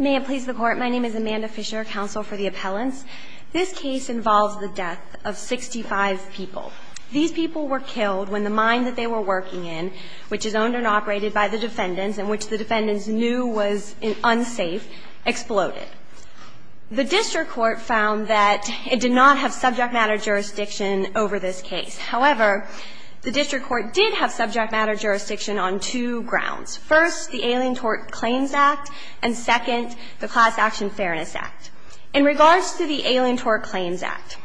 May it please the court, my name is Amanda Fisher, counsel for the appellants. This case involves the death of 65 people. These people were killed when the mine that they were working in, which is owned and operated by the defendants and which the defendants knew was unsafe, exploded. The district court found that it did not have subject matter jurisdiction over this case. However, the district court did have subject matter jurisdiction on two grounds. First, the Alien Tort Claims Act, and second, the Class Action Fairness Act. In regards to the Alien Tort Claims Act,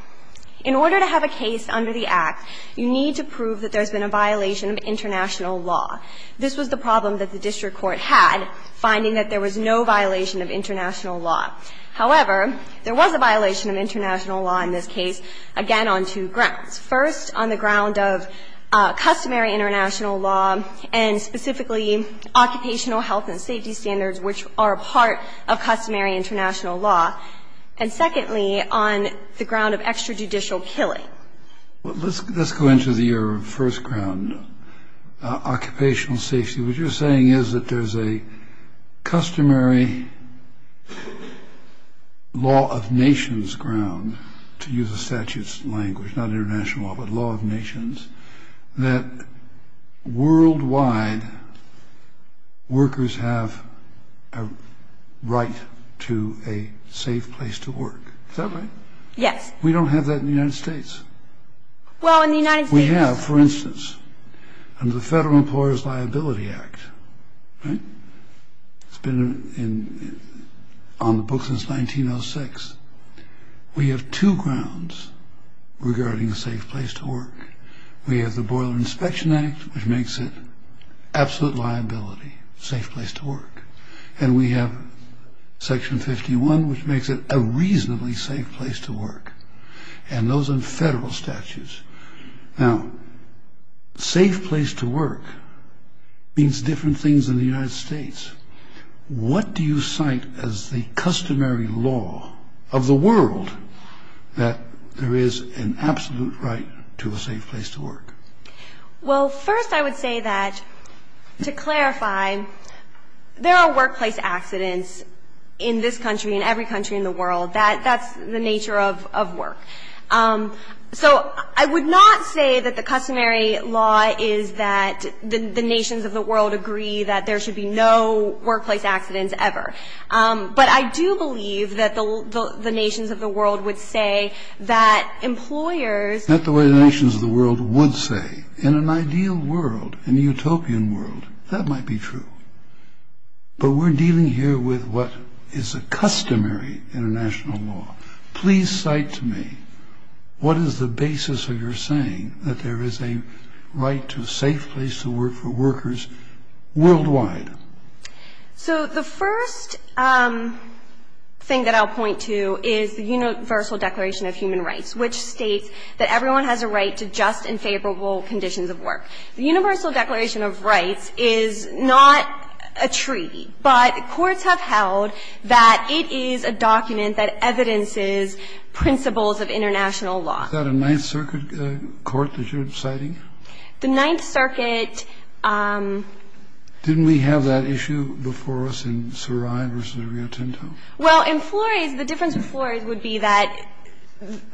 in order to have a case under the Act, you need to prove that there's been a violation of international law. This was the problem that the district court had, finding that there was no violation of international law. However, there was a violation of international law in this case, again, on two grounds. First, on the ground of customary international law, and specifically, occupational health and safety standards, which are a part of customary international law. And secondly, on the ground of extrajudicial killing. Let's go into your first ground, occupational safety. What you're saying is that there's a customary law of nations ground, to use a statute's definition of customary international law, but law of nations, that worldwide workers have a right to a safe place to work. Is that right? Yes. We don't have that in the United States. Well, in the United States... We have, for instance, under the Federal Employer's Liability Act, right? It's been on the books since 1906. We have two grounds regarding a safe place to work. We have the Boiler Inspection Act, which makes it absolute liability, safe place to work. And we have Section 51, which makes it a reasonably safe place to work. And those are federal statutes. Now, safe place to work means different things in the United States. What do you cite as the customary law of the world that there is an absolute right to a safe place to work? Well, first I would say that, to clarify, there are workplace accidents in this country and every country in the world. That's the nature of work. So I would not say that the customary law is that the nations of the world agree that there should be no workplace accidents ever. But I do believe that the nations of the world would say that employers... Not the way the nations of the world would say. In an ideal world, in a utopian world, that might be true. But we're dealing here with what is a customary international law. Please cite to me what is the basis of your saying that there is a right to a safe place to work for workers worldwide? So the first thing that I'll point to is the Universal Declaration of Human Rights, which states that everyone has a right to just and favorable conditions of work. The Universal Declaration of Rights is not a treaty, but courts have held that it is a document that evidences principles of international law. Is that a Ninth Circuit court that you're citing? The Ninth Circuit... Didn't we have that issue before us in Sarai versus Rio Tinto? Well, in Flores, the difference with Flores would be that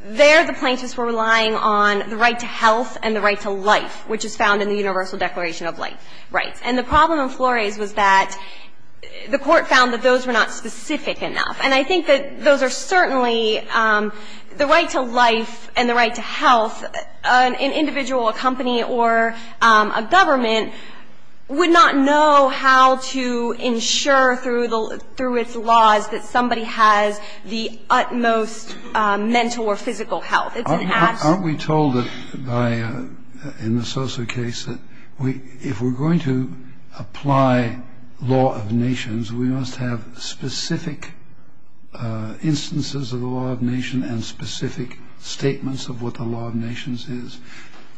there the plaintiffs were relying on the right to health and the right to life, which is found in the Universal Declaration of Rights. And the problem in Flores was that the court found that those were not specific enough. And I think that those are certainly the right to life and the right to health And I think that those are certainly the right to life and the right to life. The problem is that an individual, a company, or a government would not know how to ensure through its laws that somebody has the utmost mental or physical health. It's an absolute...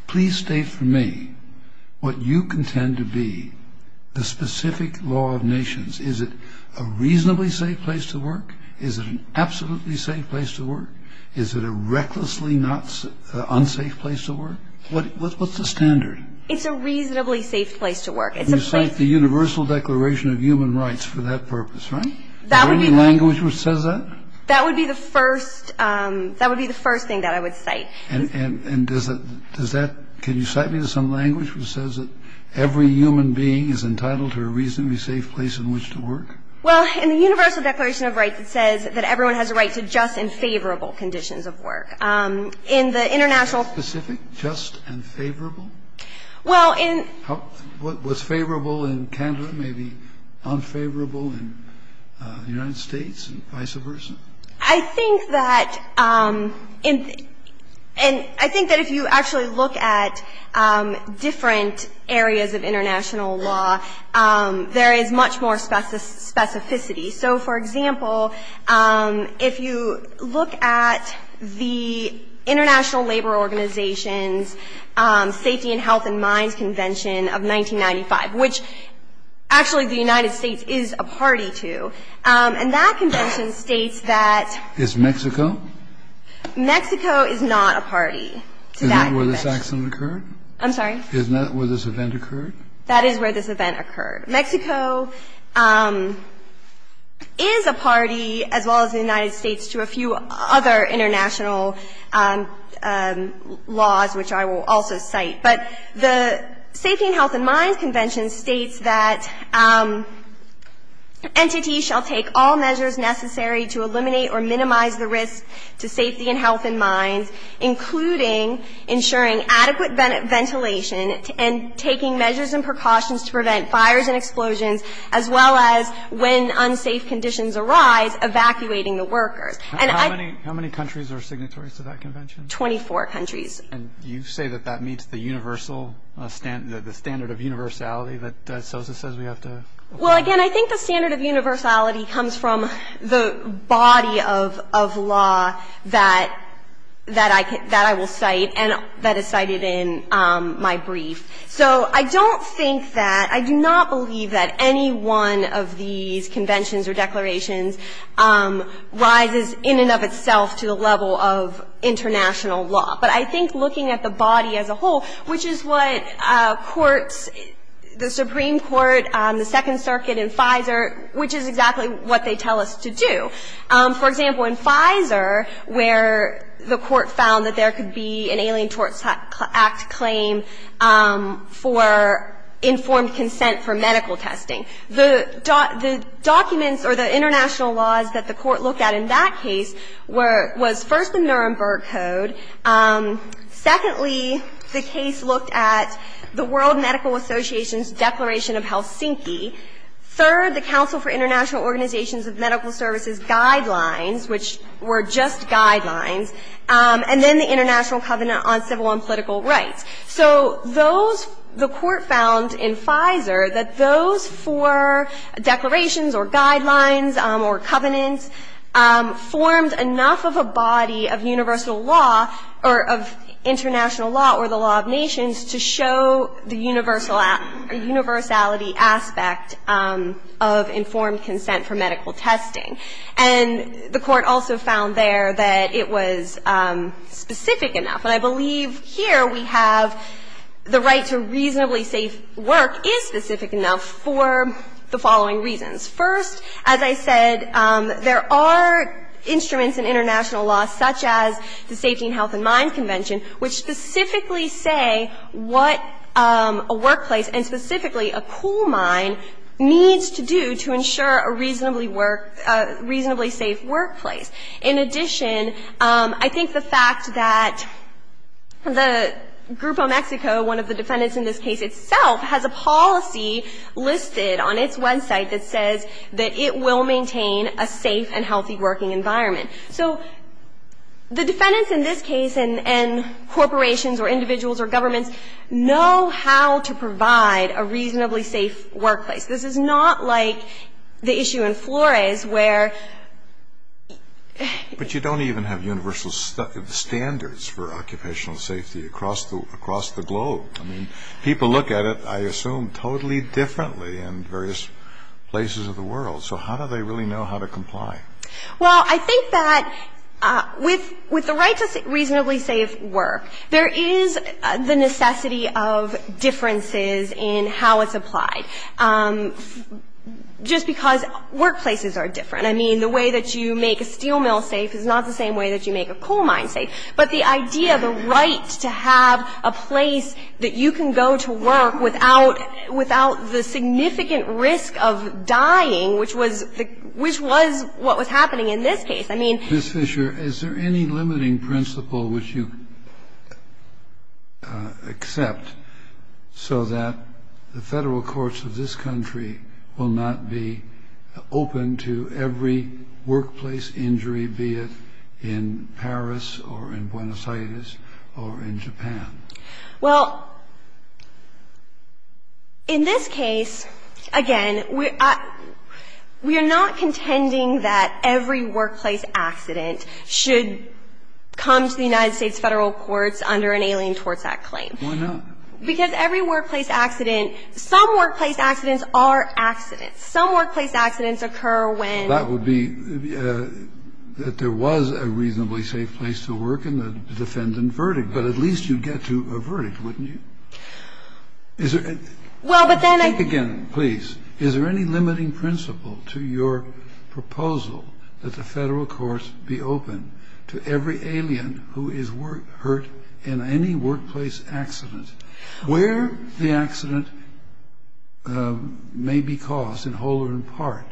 Please state for me what you contend to be the specific law of nations. Is it a reasonably safe place to work? Is it an absolutely safe place to work? Is it a recklessly unsafe place to work? What's the standard? It's a reasonably safe place to work. You cite the Universal Declaration of Human Rights for that purpose, right? Is there any language which says that? That would be the first thing that I would cite. And does that – can you cite me some language which says that every human being is entitled to a reasonably safe place in which to work? Well, in the Universal Declaration of Rights it says that everyone has a right to just and favorable conditions of work. In the international... Is that specific? Just and favorable? Well, in... What's favorable in Canada, maybe unfavorable in the United States, and vice versa? I think that in – and I think that if you actually look at different areas of international law, there is much more specificity. So, for example, if you look at the International Labor Organization's Safety and Health and Minds Convention of 1995, which actually the United States is a party to, and that convention states that... Is Mexico? Mexico is not a party to that convention. Is that where this accident occurred? I'm sorry? Is that where this event occurred? That is where this event occurred. Mexico is a party, as well as the United States, to a few other international laws which I will also cite. But the Safety and Health and Minds Convention states that entities shall take all measures necessary to eliminate or minimize the risk to safety and health and minds, including ensuring adequate ventilation and taking measures and precautions to prevent fires and explosions, as well as, when unsafe conditions arise, evacuating the workers. And I... How many countries are signatories to that convention? Twenty-four countries. And you say that that meets the standard of universality that SOSA says we have to... Well, again, I think the standard of universality comes from the body of law that I will cite and that is cited in my brief. So I don't think that... I do not believe that any one of these conventions or declarations rises in and of itself to the level of international law. But I think looking at the body as a whole, which is what courts, the Supreme Court, the Second Circuit and Pfizer, which is exactly what they tell us to do. For example, in Pfizer, where the court found that there could be an Alien Tort Act claim for informed consent for medical testing, the documents or the international laws that the court looked at in that case were, was first the Nuremberg Code. Secondly, the case looked at the World Medical Association's Declaration of Helsinki. Third, the Council for International Organizations of Medical Services guidelines, which were just guidelines. And then the International Covenant on Civil and Political Rights. So those, the court found in Pfizer that those four declarations or guidelines or covenants formed enough of a body of universal law or of international law or the law of nations to show the universal aspect or universality aspect of informed consent for medical testing. And the court also found there that it was specific enough. And I believe here we have the right to reasonably safe work is specific enough for the following reasons. First, as I said, there are instruments in international law, such as the Safety and Health in Mines Convention, which specifically say what a workplace and specifically a coal mine needs to do to ensure a reasonably safe workplace. In addition, I think the fact that the Grupo Mexico, one of the defendants in this case itself, has a policy listed on its website that says that it will maintain a safe and healthy working environment. So the defendants in this case and corporations or individuals or governments know how to provide a reasonably safe workplace. This is not like the issue in Flores where ---- But you don't even have universal standards for occupational safety across the globe. I mean, people look at it, I assume, totally differently in various places of the world. So how do they really know how to comply? Well, I think that with the right to reasonably safe work, there is the necessity of differences in how it's applied. Just because workplaces are different. I mean, the way that you make a steel mill safe is not the same way that you make a coal mine safe. But the idea, the right to have a place that you can go to work without the significant risk of dying, which was what was happening in this case, I mean ---- Any limiting principle which you accept so that the Federal courts of this country will not be open to every workplace injury, be it in Paris or in Buenos Aires or in Japan? Well, in this case, again, we are not contending that every workplace accident should come to the United States Federal courts under an Alien Tort Act claim. Why not? Because every workplace accident, some workplace accidents are accidents. Some workplace accidents occur when ---- That would be that there was a reasonably safe place to work in the defendant's If you were to do a verdict, wouldn't you? Well, but then I ---- Think again, please. Is there any limiting principle to your proposal that the Federal courts be open to every alien who is hurt in any workplace accident where the accident may be caused in whole or in part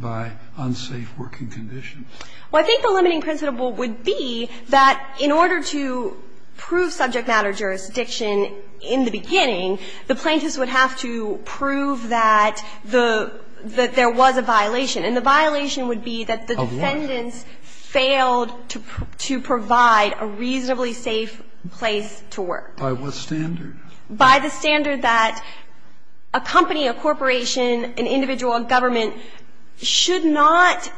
by unsafe working conditions? Well, I think the limiting principle would be that in order to prove subject matter jurisdiction in the beginning, the plaintiffs would have to prove that the ---- that there was a violation. And the violation would be that the defendants failed to provide a reasonably safe place to work. By what standard? Well, I think the limiting principle would be that the defendant should not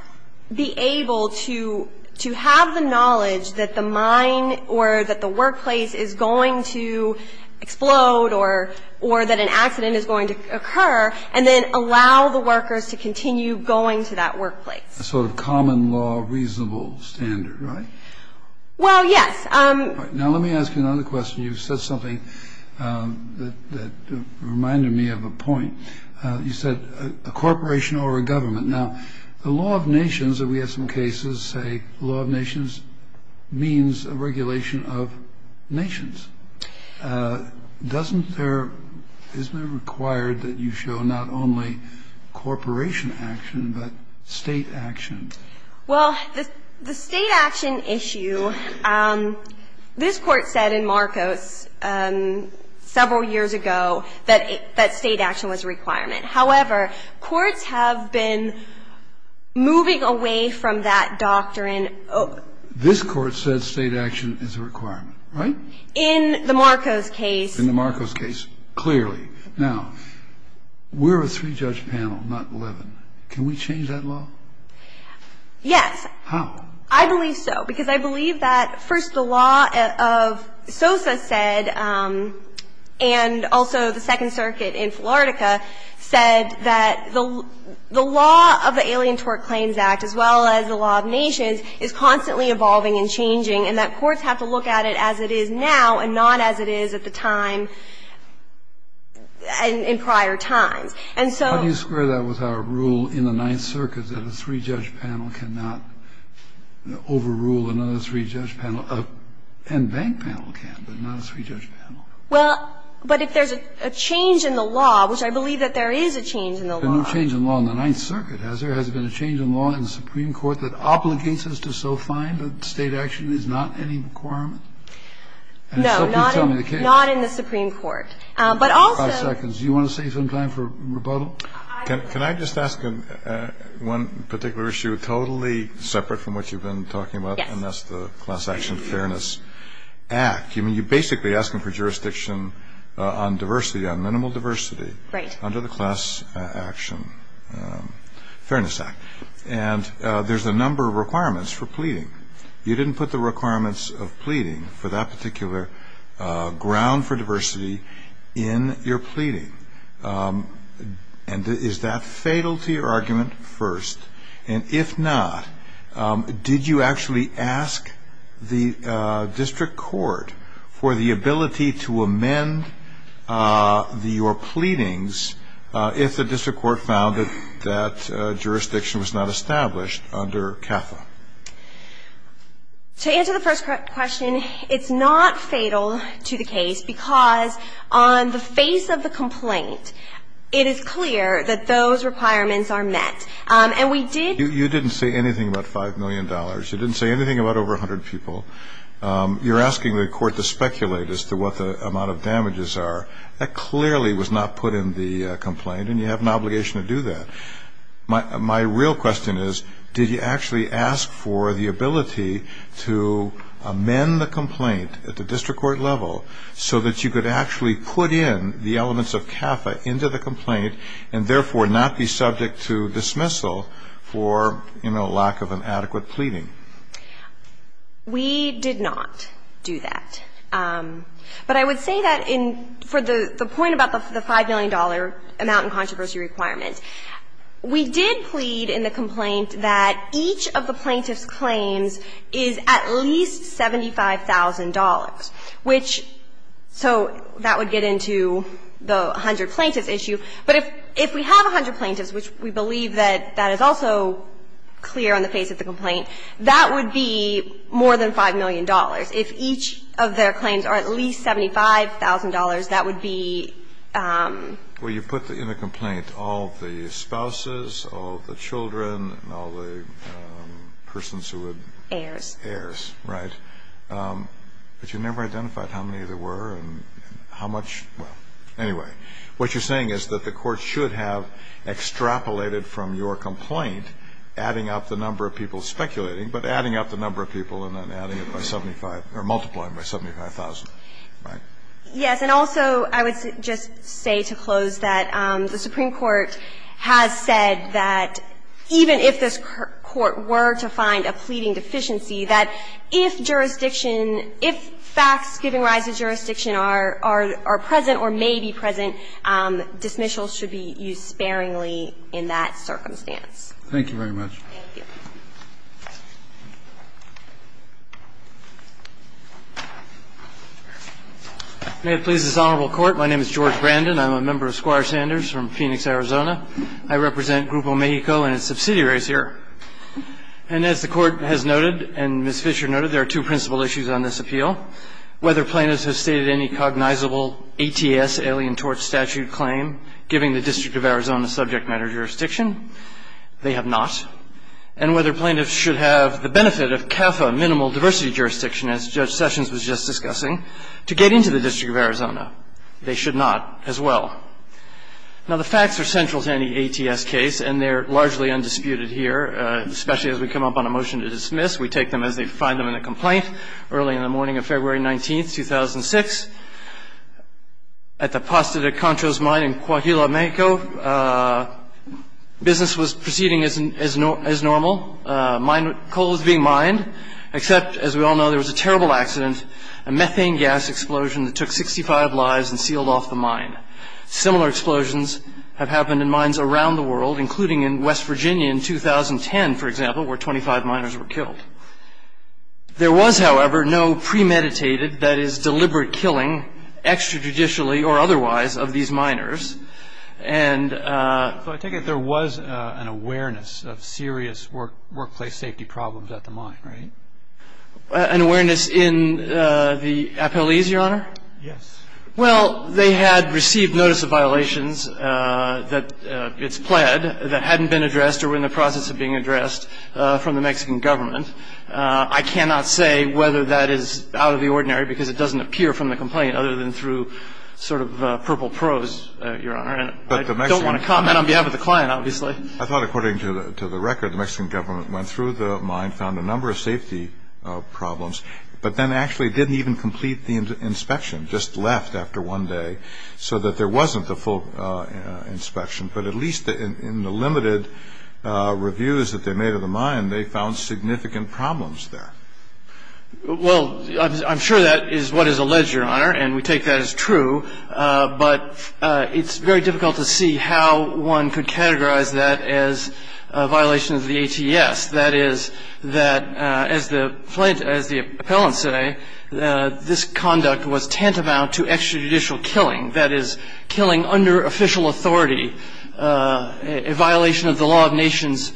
be able to have the knowledge that the mine or that the workplace is going to explode or that an accident is going to occur, and then allow the workers to continue going to that workplace. A sort of common law reasonable standard, right? Well, yes. All right. Now let me ask you another question. You said something that reminded me of a point. You said a corporation or a government. Now, the law of nations, and we have some cases say the law of nations means a regulation of nations. Doesn't there ---- isn't it required that you show not only corporation action but state action? Well, the state action issue, this Court said in Marcos several years ago that state action was a requirement. However, courts have been moving away from that doctrine. This Court said state action is a requirement, right? In the Marcos case. In the Marcos case, clearly. Now, we're a three-judge panel, not 11. Can we change that law? Yes. How? I believe so. Because I believe that, first, the law of Sosa said and also the Second Circuit in Philartica said that the law of the Alien Tort Claims Act, as well as the law of nations, is constantly evolving and changing, and that courts have to look at it as it is now and not as it is at the time in prior times. And so ---- But how do you square that with our rule in the Ninth Circuit that a three-judge panel cannot overrule another three-judge panel? And bank panel can, but not a three-judge panel. Well, but if there's a change in the law, which I believe that there is a change in the law ---- But no change in law in the Ninth Circuit, has there? Has there been a change in law in the Supreme Court that obligates us to so find that state action is not any requirement? No, not in the Supreme Court. But also ---- Can I just ask one particular issue totally separate from what you've been talking about? Yes. And that's the Class Action Fairness Act. You're basically asking for jurisdiction on diversity, on minimal diversity under the Class Action Fairness Act. And there's a number of requirements for pleading. You didn't put the requirements of pleading for that particular ground for diversity in your pleading. And is that fatal to your argument? First. And if not, did you actually ask the district court for the ability to amend your pleadings if the district court found that that jurisdiction was not established under CAFA? To answer the first question, it's not fatal to the case because on the face of the complaint, it is clear that those requirements are met. And we did ---- You didn't say anything about $5 million. You didn't say anything about over 100 people. You're asking the court to speculate as to what the amount of damages are. That clearly was not put in the complaint, and you have an obligation to do that. My real question is, did you actually ask for the ability to amend the complaint at the district court level so that you could actually put in the elements of CAFA into the complaint and therefore not be subject to dismissal for, you know, lack of an adequate pleading? We did not do that. But I would say that in ---- for the point about the $5 million amount in controversy requirement, we did plead in the complaint that each of the plaintiff's claims is at least $75,000, which so that would get into the 100 plaintiffs issue. But if we have 100 plaintiffs, which we believe that that is also clear on the face of the complaint, that would be more than $5 million. If each of their claims are at least $75,000, that would be ---- Well, you put in the complaint all the spouses, all the children, and all the persons who would ---- Heirs. Heirs, right. But you never identified how many there were and how much ---- well, anyway. What you're saying is that the Court should have extrapolated from your complaint, adding up the number of people speculating, but adding up the number of people and then adding it by 75 or multiplying by 75,000, right? Yes. And also I would just say to close that the Supreme Court has said that even if this is a case of completing deficiency, that if jurisdiction, if facts giving rise to jurisdiction are present or may be present, dismissals should be used sparingly in that circumstance. Thank you very much. Thank you. May it please this Honorable Court. My name is George Brandon. I'm a member of Squire Sanders from Phoenix, Arizona. I represent Grupo Mexico and its subsidiaries here. And as the Court has noted and Ms. Fischer noted, there are two principal issues on this appeal. Whether plaintiffs have stated any cognizable ATS, Alien Tort Statute, claim, giving the District of Arizona subject matter jurisdiction, they have not. And whether plaintiffs should have the benefit of CAFA, minimal diversity jurisdiction, as Judge Sessions was just discussing, to get into the District of Arizona, they should not as well. Now, the facts are central to any ATS case, and they're largely undisputed here, especially as we come up on a motion to dismiss. We take them as they find them in the complaint. Early in the morning of February 19th, 2006, at the Pasta de Contros mine in Coahuila, Mexico, business was proceeding as normal. Coal was being mined, except, as we all know, there was a terrible accident, a methane gas explosion that took 65 lives and sealed off the mine. Similar explosions have happened in mines around the world, including in West Virginia in 2010, for example, where 25 miners were killed. There was, however, no premeditated, that is, deliberate killing, extrajudicially or otherwise, of these miners. And so I take it there was an awareness of serious workplace safety problems at the mine, right? An awareness in the appellees, Your Honor? Yes. Well, they had received notice of violations that it's pled that hadn't been addressed or were in the process of being addressed from the Mexican government. I cannot say whether that is out of the ordinary because it doesn't appear from the complaint other than through sort of purple prose, Your Honor. I don't want to comment on behalf of the client, obviously. I thought, according to the record, the Mexican government went through the mine, found a number of safety problems, but then actually didn't even complete the inspection, just left after one day, so that there wasn't the full inspection. But at least in the limited reviews that they made of the mine, they found significant problems there. Well, I'm sure that is what is alleged, Your Honor, and we take that as true. But it's very difficult to see how one could categorize that as a violation of the ATS, that is, that, as the plaintiffs, as the appellants say, this conduct was tantamount to extrajudicial killing, that is, killing under official authority a violation of the law of nations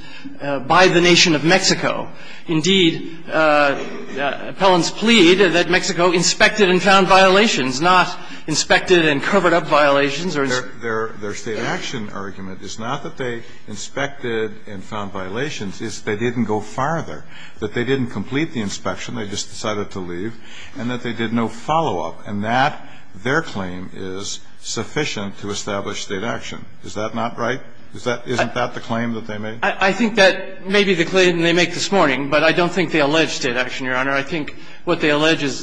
by the nation of Mexico. Indeed, appellants plead that Mexico inspected and found violations, not inspected and covered up violations or inspected. Their State action argument is not that they inspected and found violations. It's they didn't go farther, that they didn't complete the inspection. They just decided to leave, and that they did no follow-up. And that, their claim, is sufficient to establish State action. Is that not right? Isn't that the claim that they made? I think that may be the claim they make this morning. But I don't think they allege State action, Your Honor. I think what they allege is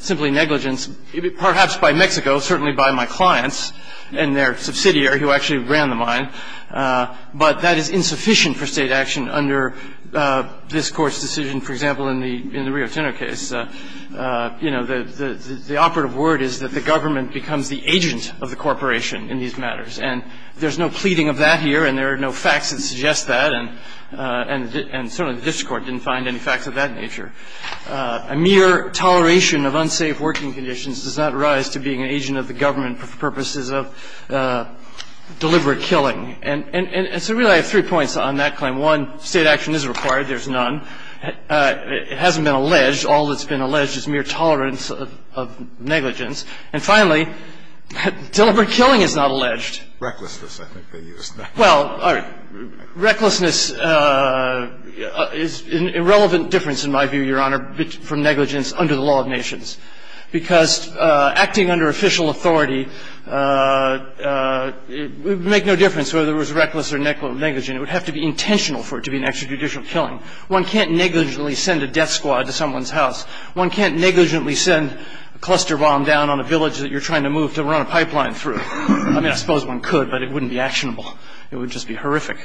simply negligence, perhaps by Mexico, certainly by my clients and their subsidiary who actually ran the mine. But that is insufficient for State action under this Court's decision. For example, in the Rio Tinto case, you know, the operative word is that the government becomes the agent of the corporation in these matters. And there's no pleading of that here, and there are no facts that suggest that, and certainly the district court didn't find any facts of that nature. A mere toleration of unsafe working conditions does not rise to being an agent of the government for purposes of deliberate killing. And so really I have three points on that claim. One, State action is required. There's none. It hasn't been alleged. All that's been alleged is mere tolerance of negligence. And finally, deliberate killing is not alleged. Recklessness, I think they used. Well, recklessness is an irrelevant difference, in my view, Your Honor, from negligence under the law of nations. Because acting under official authority would make no difference whether it was reckless or negligent. It would have to be intentional for it to be an extrajudicial killing. One can't negligently send a death squad to someone's house. One can't negligently send a cluster bomb down on a village that you're trying to move to run a pipeline through. I mean, I suppose one could, but it wouldn't be actionable. It would just be horrific.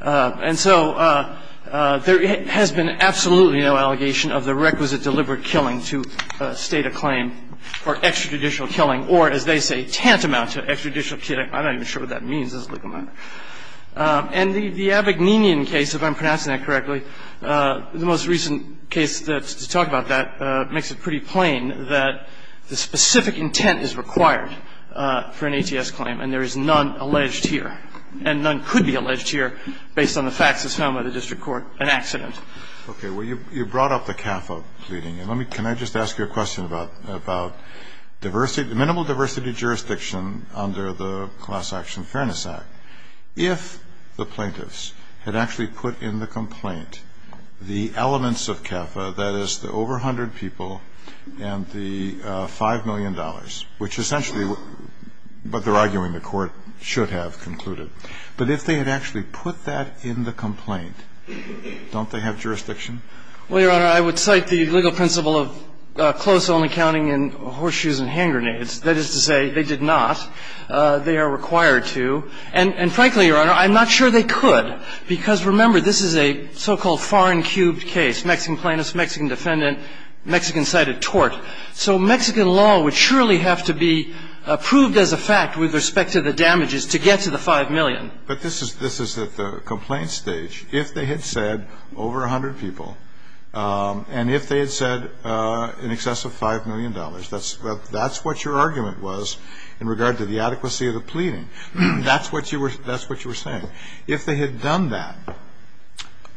And so there has been absolutely no allegation of the requisite deliberate killing to state a claim for extrajudicial killing or, as they say, tantamount to extrajudicial killing. I'm not even sure what that means. It's a legal matter. And the Abagninian case, if I'm pronouncing that correctly, the most recent case to talk about that makes it pretty plain that the specific intent is required for an ATS claim, and there is none alleged here. And none could be alleged here based on the facts as found by the district court, an accident. Okay. Well, you brought up the CAFA pleading. Can I just ask you a question about diversity? Minimal diversity jurisdiction under the Class Action Fairness Act, if the plaintiffs had actually put in the complaint the elements of CAFA, that is, the over 100 people and the $5 million, which essentially what they're arguing the Court should have concluded, but if they had actually put that in the complaint, don't they have jurisdiction? Well, Your Honor, I would cite the legal principle of close only counting in horseshoes and hand grenades. That is to say, they did not. They are required to. And frankly, Your Honor, I'm not sure they could, because remember, this is a so-called foreign cubed case, Mexican plaintiff, Mexican defendant, Mexican cited tort. So Mexican law would surely have to be approved as a fact with respect to the damages to get to the $5 million. But this is at the complaint stage. If they had said over 100 people, and if they had said in excess of $5 million, that's what your argument was in regard to the adequacy of the pleading. That's what you were saying. If they had done that,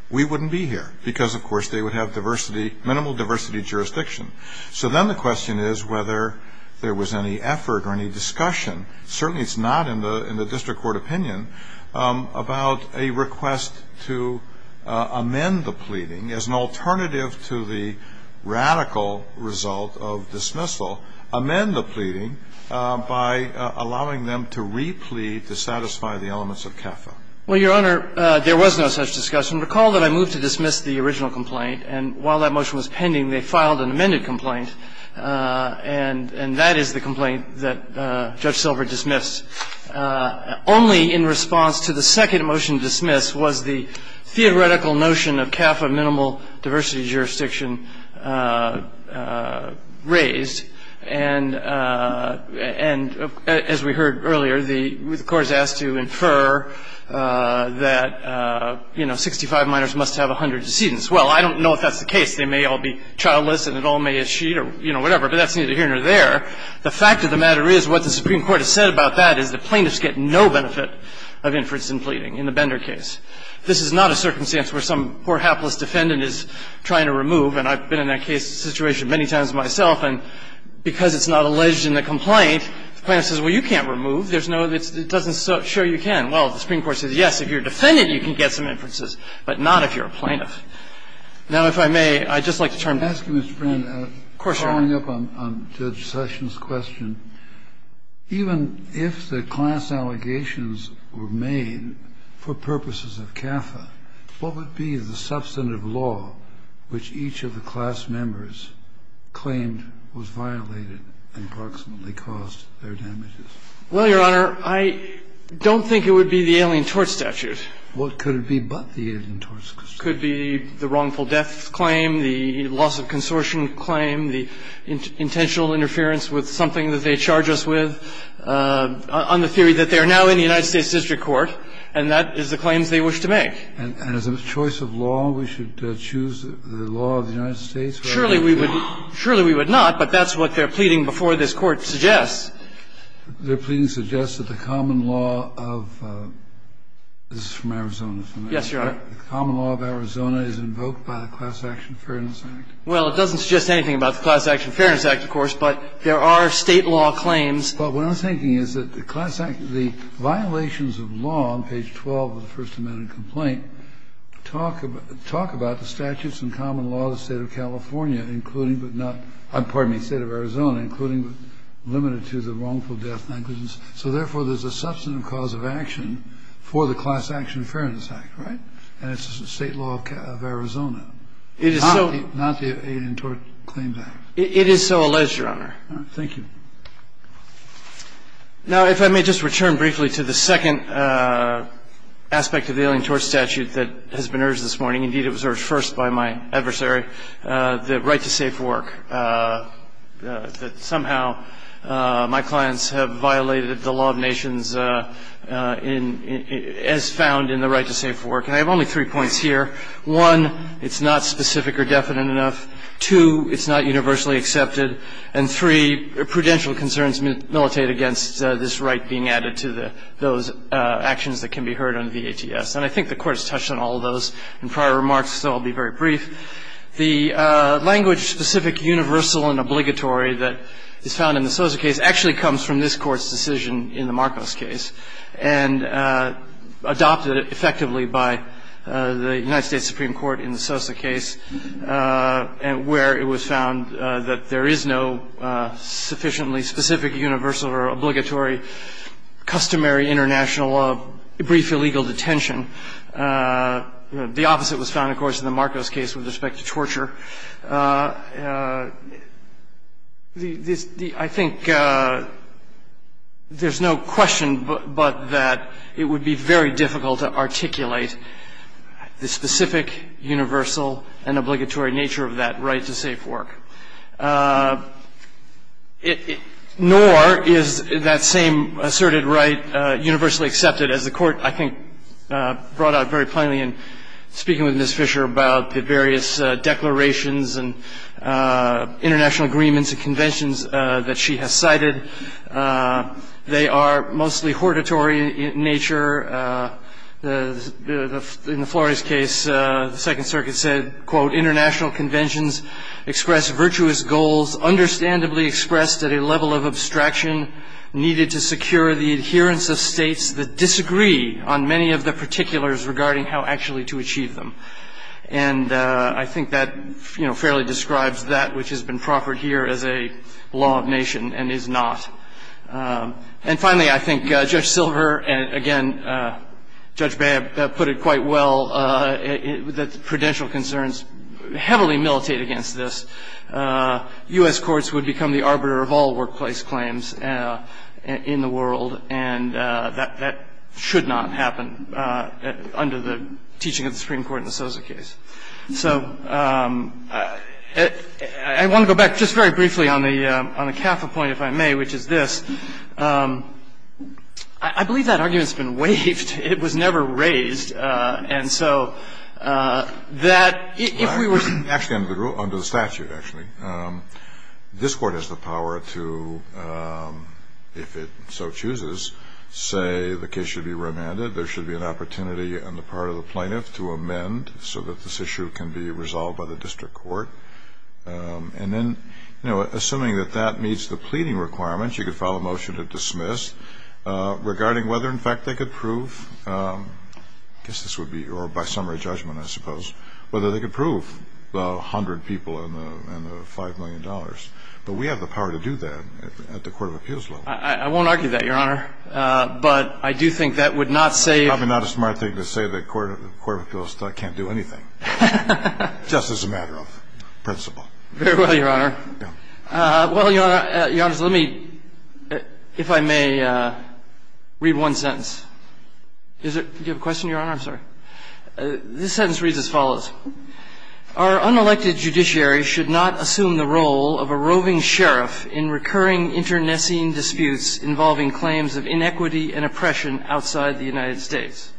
we wouldn't be here, because, of course, they would have diversity, minimal diversity jurisdiction. So then the question is whether there was any effort or any discussion, certainly it's not in the district court opinion, about a request to amend the pleading as an alternative to the radical result of dismissal, amend the pleading by allowing them to re-plead to satisfy the elements of CAFA. Well, Your Honor, there was no such discussion. Recall that I moved to dismiss the original complaint. And while that motion was pending, they filed an amended complaint. And that is the complaint that Judge Silver dismissed. Only in response to the second motion to dismiss was the theoretical notion of CAFA minimal diversity jurisdiction raised. And as we heard earlier, the Court has asked to infer that, you know, 65 minors must have 100 decedents. Well, I don't know if that's the case. They may all be childless and it all may as sheet or, you know, whatever. But that's neither here nor there. The fact of the matter is what the Supreme Court has said about that is the plaintiffs get no benefit of inference in pleading in the Bender case. And I've been in that case situation many times myself. And because it's not alleged in the complaint, the plaintiff says, well, you can't remove. There's no other. It doesn't show you can. Well, the Supreme Court says, yes, if you're defendant, you can get some inferences, but not if you're a plaintiff. Now, if I may, I'd just like to turn to you. Kennedy. Of course, Your Honor. Kennedy. I'm following up on Judge Sessions' question. Even if the class allegations were made for purposes of CAFA, what would be the substantive law which each of the class members claimed was violated and approximately caused their damages? Well, Your Honor, I don't think it would be the Alien Tort Statute. Well, could it be but the Alien Tort Statute? Could be the wrongful death claim, the loss of consortium claim, the intentional interference with something that they charge us with on the theory that they are now in the United States district court, and that is the claims they wish to make. And as a choice of law, we should choose the law of the United States? Surely we would not, but that's what their pleading before this Court suggests. Their pleading suggests that the common law of the common law of Arizona is invoked by the Class Action Fairness Act. Well, it doesn't suggest anything about the Class Action Fairness Act, of course, but there are State law claims. But what I'm thinking is that the class act, the violations of law on page 12 of the And I think it's important that we talk about the statutes and common law of the State of California, including but not – pardon me, State of Arizona, including but limited to the wrongful death negligence. So therefore, there's a substantive cause of action for the Class Action Fairness Act. Right? And it's the State law of Arizona. It is so – Not the Alien Tort Claims Act. It is so alleged, Your Honor. Thank you. Now, if I may just return briefly to the second aspect of the Alien Tort Statute that has been urged this morning. Indeed, it was urged first by my adversary, the right to safe work, that somehow my clients have violated the law of nations as found in the right to safe work. And I have only three points here. One, it's not specific or definite enough. Two, it's not universally accepted. And three, prudential concerns militate against this right being added to the – those actions that can be heard on VATS. And I think the Court has touched on all of those in prior remarks, so I'll be very brief. The language specific universal and obligatory that is found in the Sosa case actually comes from this Court's decision in the Marcos case and adopted effectively by the United States Supreme Court in the Sosa case where it was found that there is no sufficiently specific universal or obligatory customary international brief illegal detention. The opposite was found, of course, in the Marcos case with respect to torture. I think there's no question but that it would be very difficult to articulate the specific universal and obligatory nature of that right to safe work. Nor is that same asserted right universally accepted as the Court, I think, brought out very plainly in speaking with Ms. Fisher about the various declarations and international agreements and conventions that she has cited. They are mostly hortatory in nature. In the Flores case, the Second Circuit said, quote, international conventions express virtuous goals, understandably expressed at a level of abstraction needed to secure the adherence of states that disagree on many of the particulars regarding how actually to achieve them. And I think that fairly describes that which has been proffered here as a law of nation and is not. And finally, I think Judge Silver and, again, Judge Babb put it quite well, that prudential concerns heavily militate against this. U.S. courts would become the arbiter of all workplace claims in the world, and that should not happen under the teaching of the Supreme Court in the Sosa case. So I want to go back just very briefly on the capital point, if I may, which is this. I believe that argument has been waived. It was never raised. And so that if we were to ---- Actually, under the statute, actually. This Court has the power to, if it so chooses, say the case should be remanded. There should be an opportunity on the part of the plaintiff to amend so that this issue can be resolved by the district court. And then, you know, assuming that that meets the pleading requirements, you could file a motion to dismiss regarding whether, in fact, they could prove, I guess this would be, or by summary judgment, I suppose, whether they could prove the 100 people and the $5 million. But we have the power to do that at the court of appeals level. I won't argue that, Your Honor. But I do think that would not say ---- It's probably not a smart thing to say that the court of appeals still can't do anything. Just as a matter of principle. Very well, Your Honor. Well, Your Honor, let me, if I may, read one sentence. Do you have a question, Your Honor? I'm sorry. This sentence reads as follows. Our unelected judiciary should not assume the role of a roving sheriff in recurring internecine disputes involving claims of inequity and oppression outside the United States.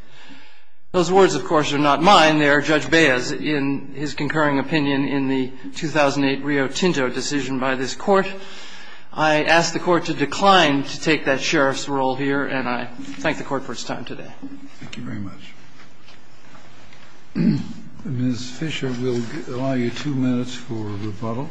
Those words, of course, are not mine. They are Judge Bea's in his concurring opinion in the 2008 Rio Tinto decision by this Court. I ask the Court to decline to take that sheriff's role here, and I thank the Court for its time today. Thank you very much. Ms. Fisher, we'll allow you two minutes for rebuttal.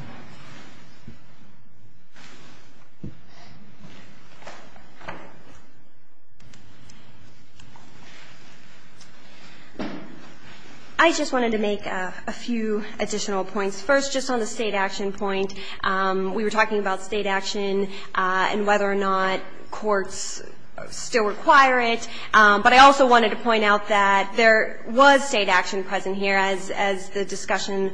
I just wanted to make a few additional points. First, just on the State action point, we were talking about State action and whether or not courts still require it. But I also wanted to point out that there was State action present here, as the discussion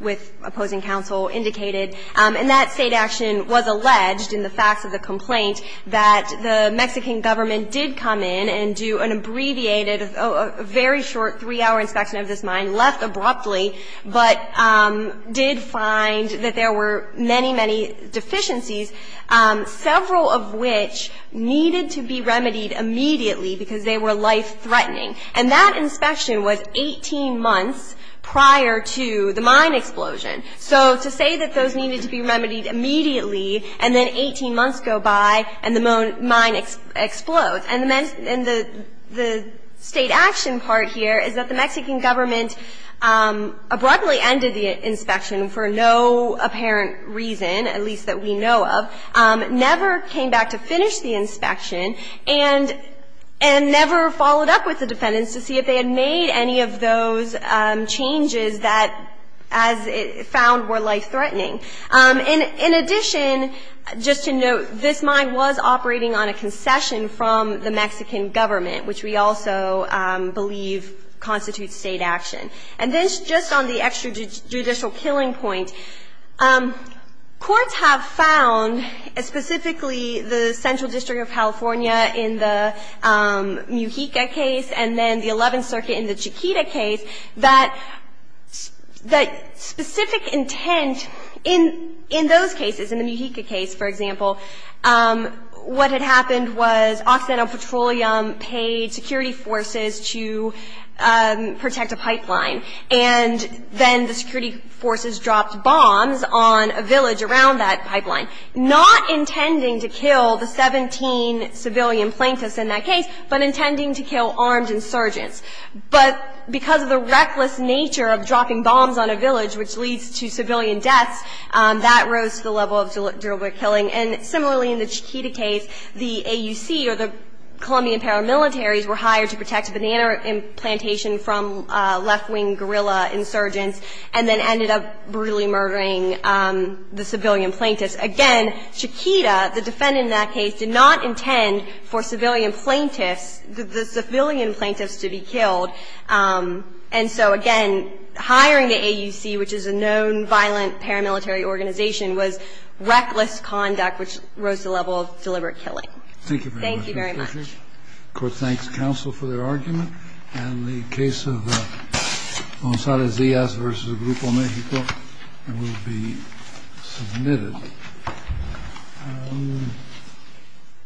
with opposing counsel indicated. And that State action was alleged in the facts of the complaint that the Mexican government did come in and do an abbreviated, very short three-hour inspection of this mine, left abruptly, but did find that there were many, many deficiencies, several of which needed to be remedied immediately because they were life-threatening. And that inspection was 18 months prior to the mine explosion. So to say that those needed to be remedied immediately and then 18 months go by and the mine explodes. And the State action part here is that the Mexican government abruptly ended the inspection and never followed up with the defendants to see if they had made any of those changes that, as it found, were life-threatening. In addition, just to note, this mine was operating on a concession from the Mexican government, which we also believe constitutes State action. And then just on the extrajudicial killing point, courts have found, specifically the Central District of California in the Mujica case and then the Eleventh Circuit in the Chiquita case, that specific intent in those cases, in the Mujica case, for example, what had happened was Occidental Petroleum paid security forces to protect a pipeline, and then the security forces dropped bombs on a village around that pipeline, not intending to kill the 17 civilian plaintiffs in that case, but intending to kill armed insurgents. But because of the reckless nature of dropping bombs on a village, which leads to civilian deaths, that rose to the level of deliberate killing. And similarly, in the Chiquita case, the AUC or the Colombian paramilitaries were hired to protect a banana plantation from left-wing guerrilla insurgents and then ended up brutally murdering the civilian plaintiffs. Again, Chiquita, the defendant in that case, did not intend for civilian plaintiffs to be killed. And so, again, hiring the AUC, which is a known violent paramilitary organization, was reckless conduct, which rose to the level of deliberate killing. Thank you very much. Court thanks counsel for their argument. And the case of Gonzalez-Diaz v. Grupo Mexico will be submitted.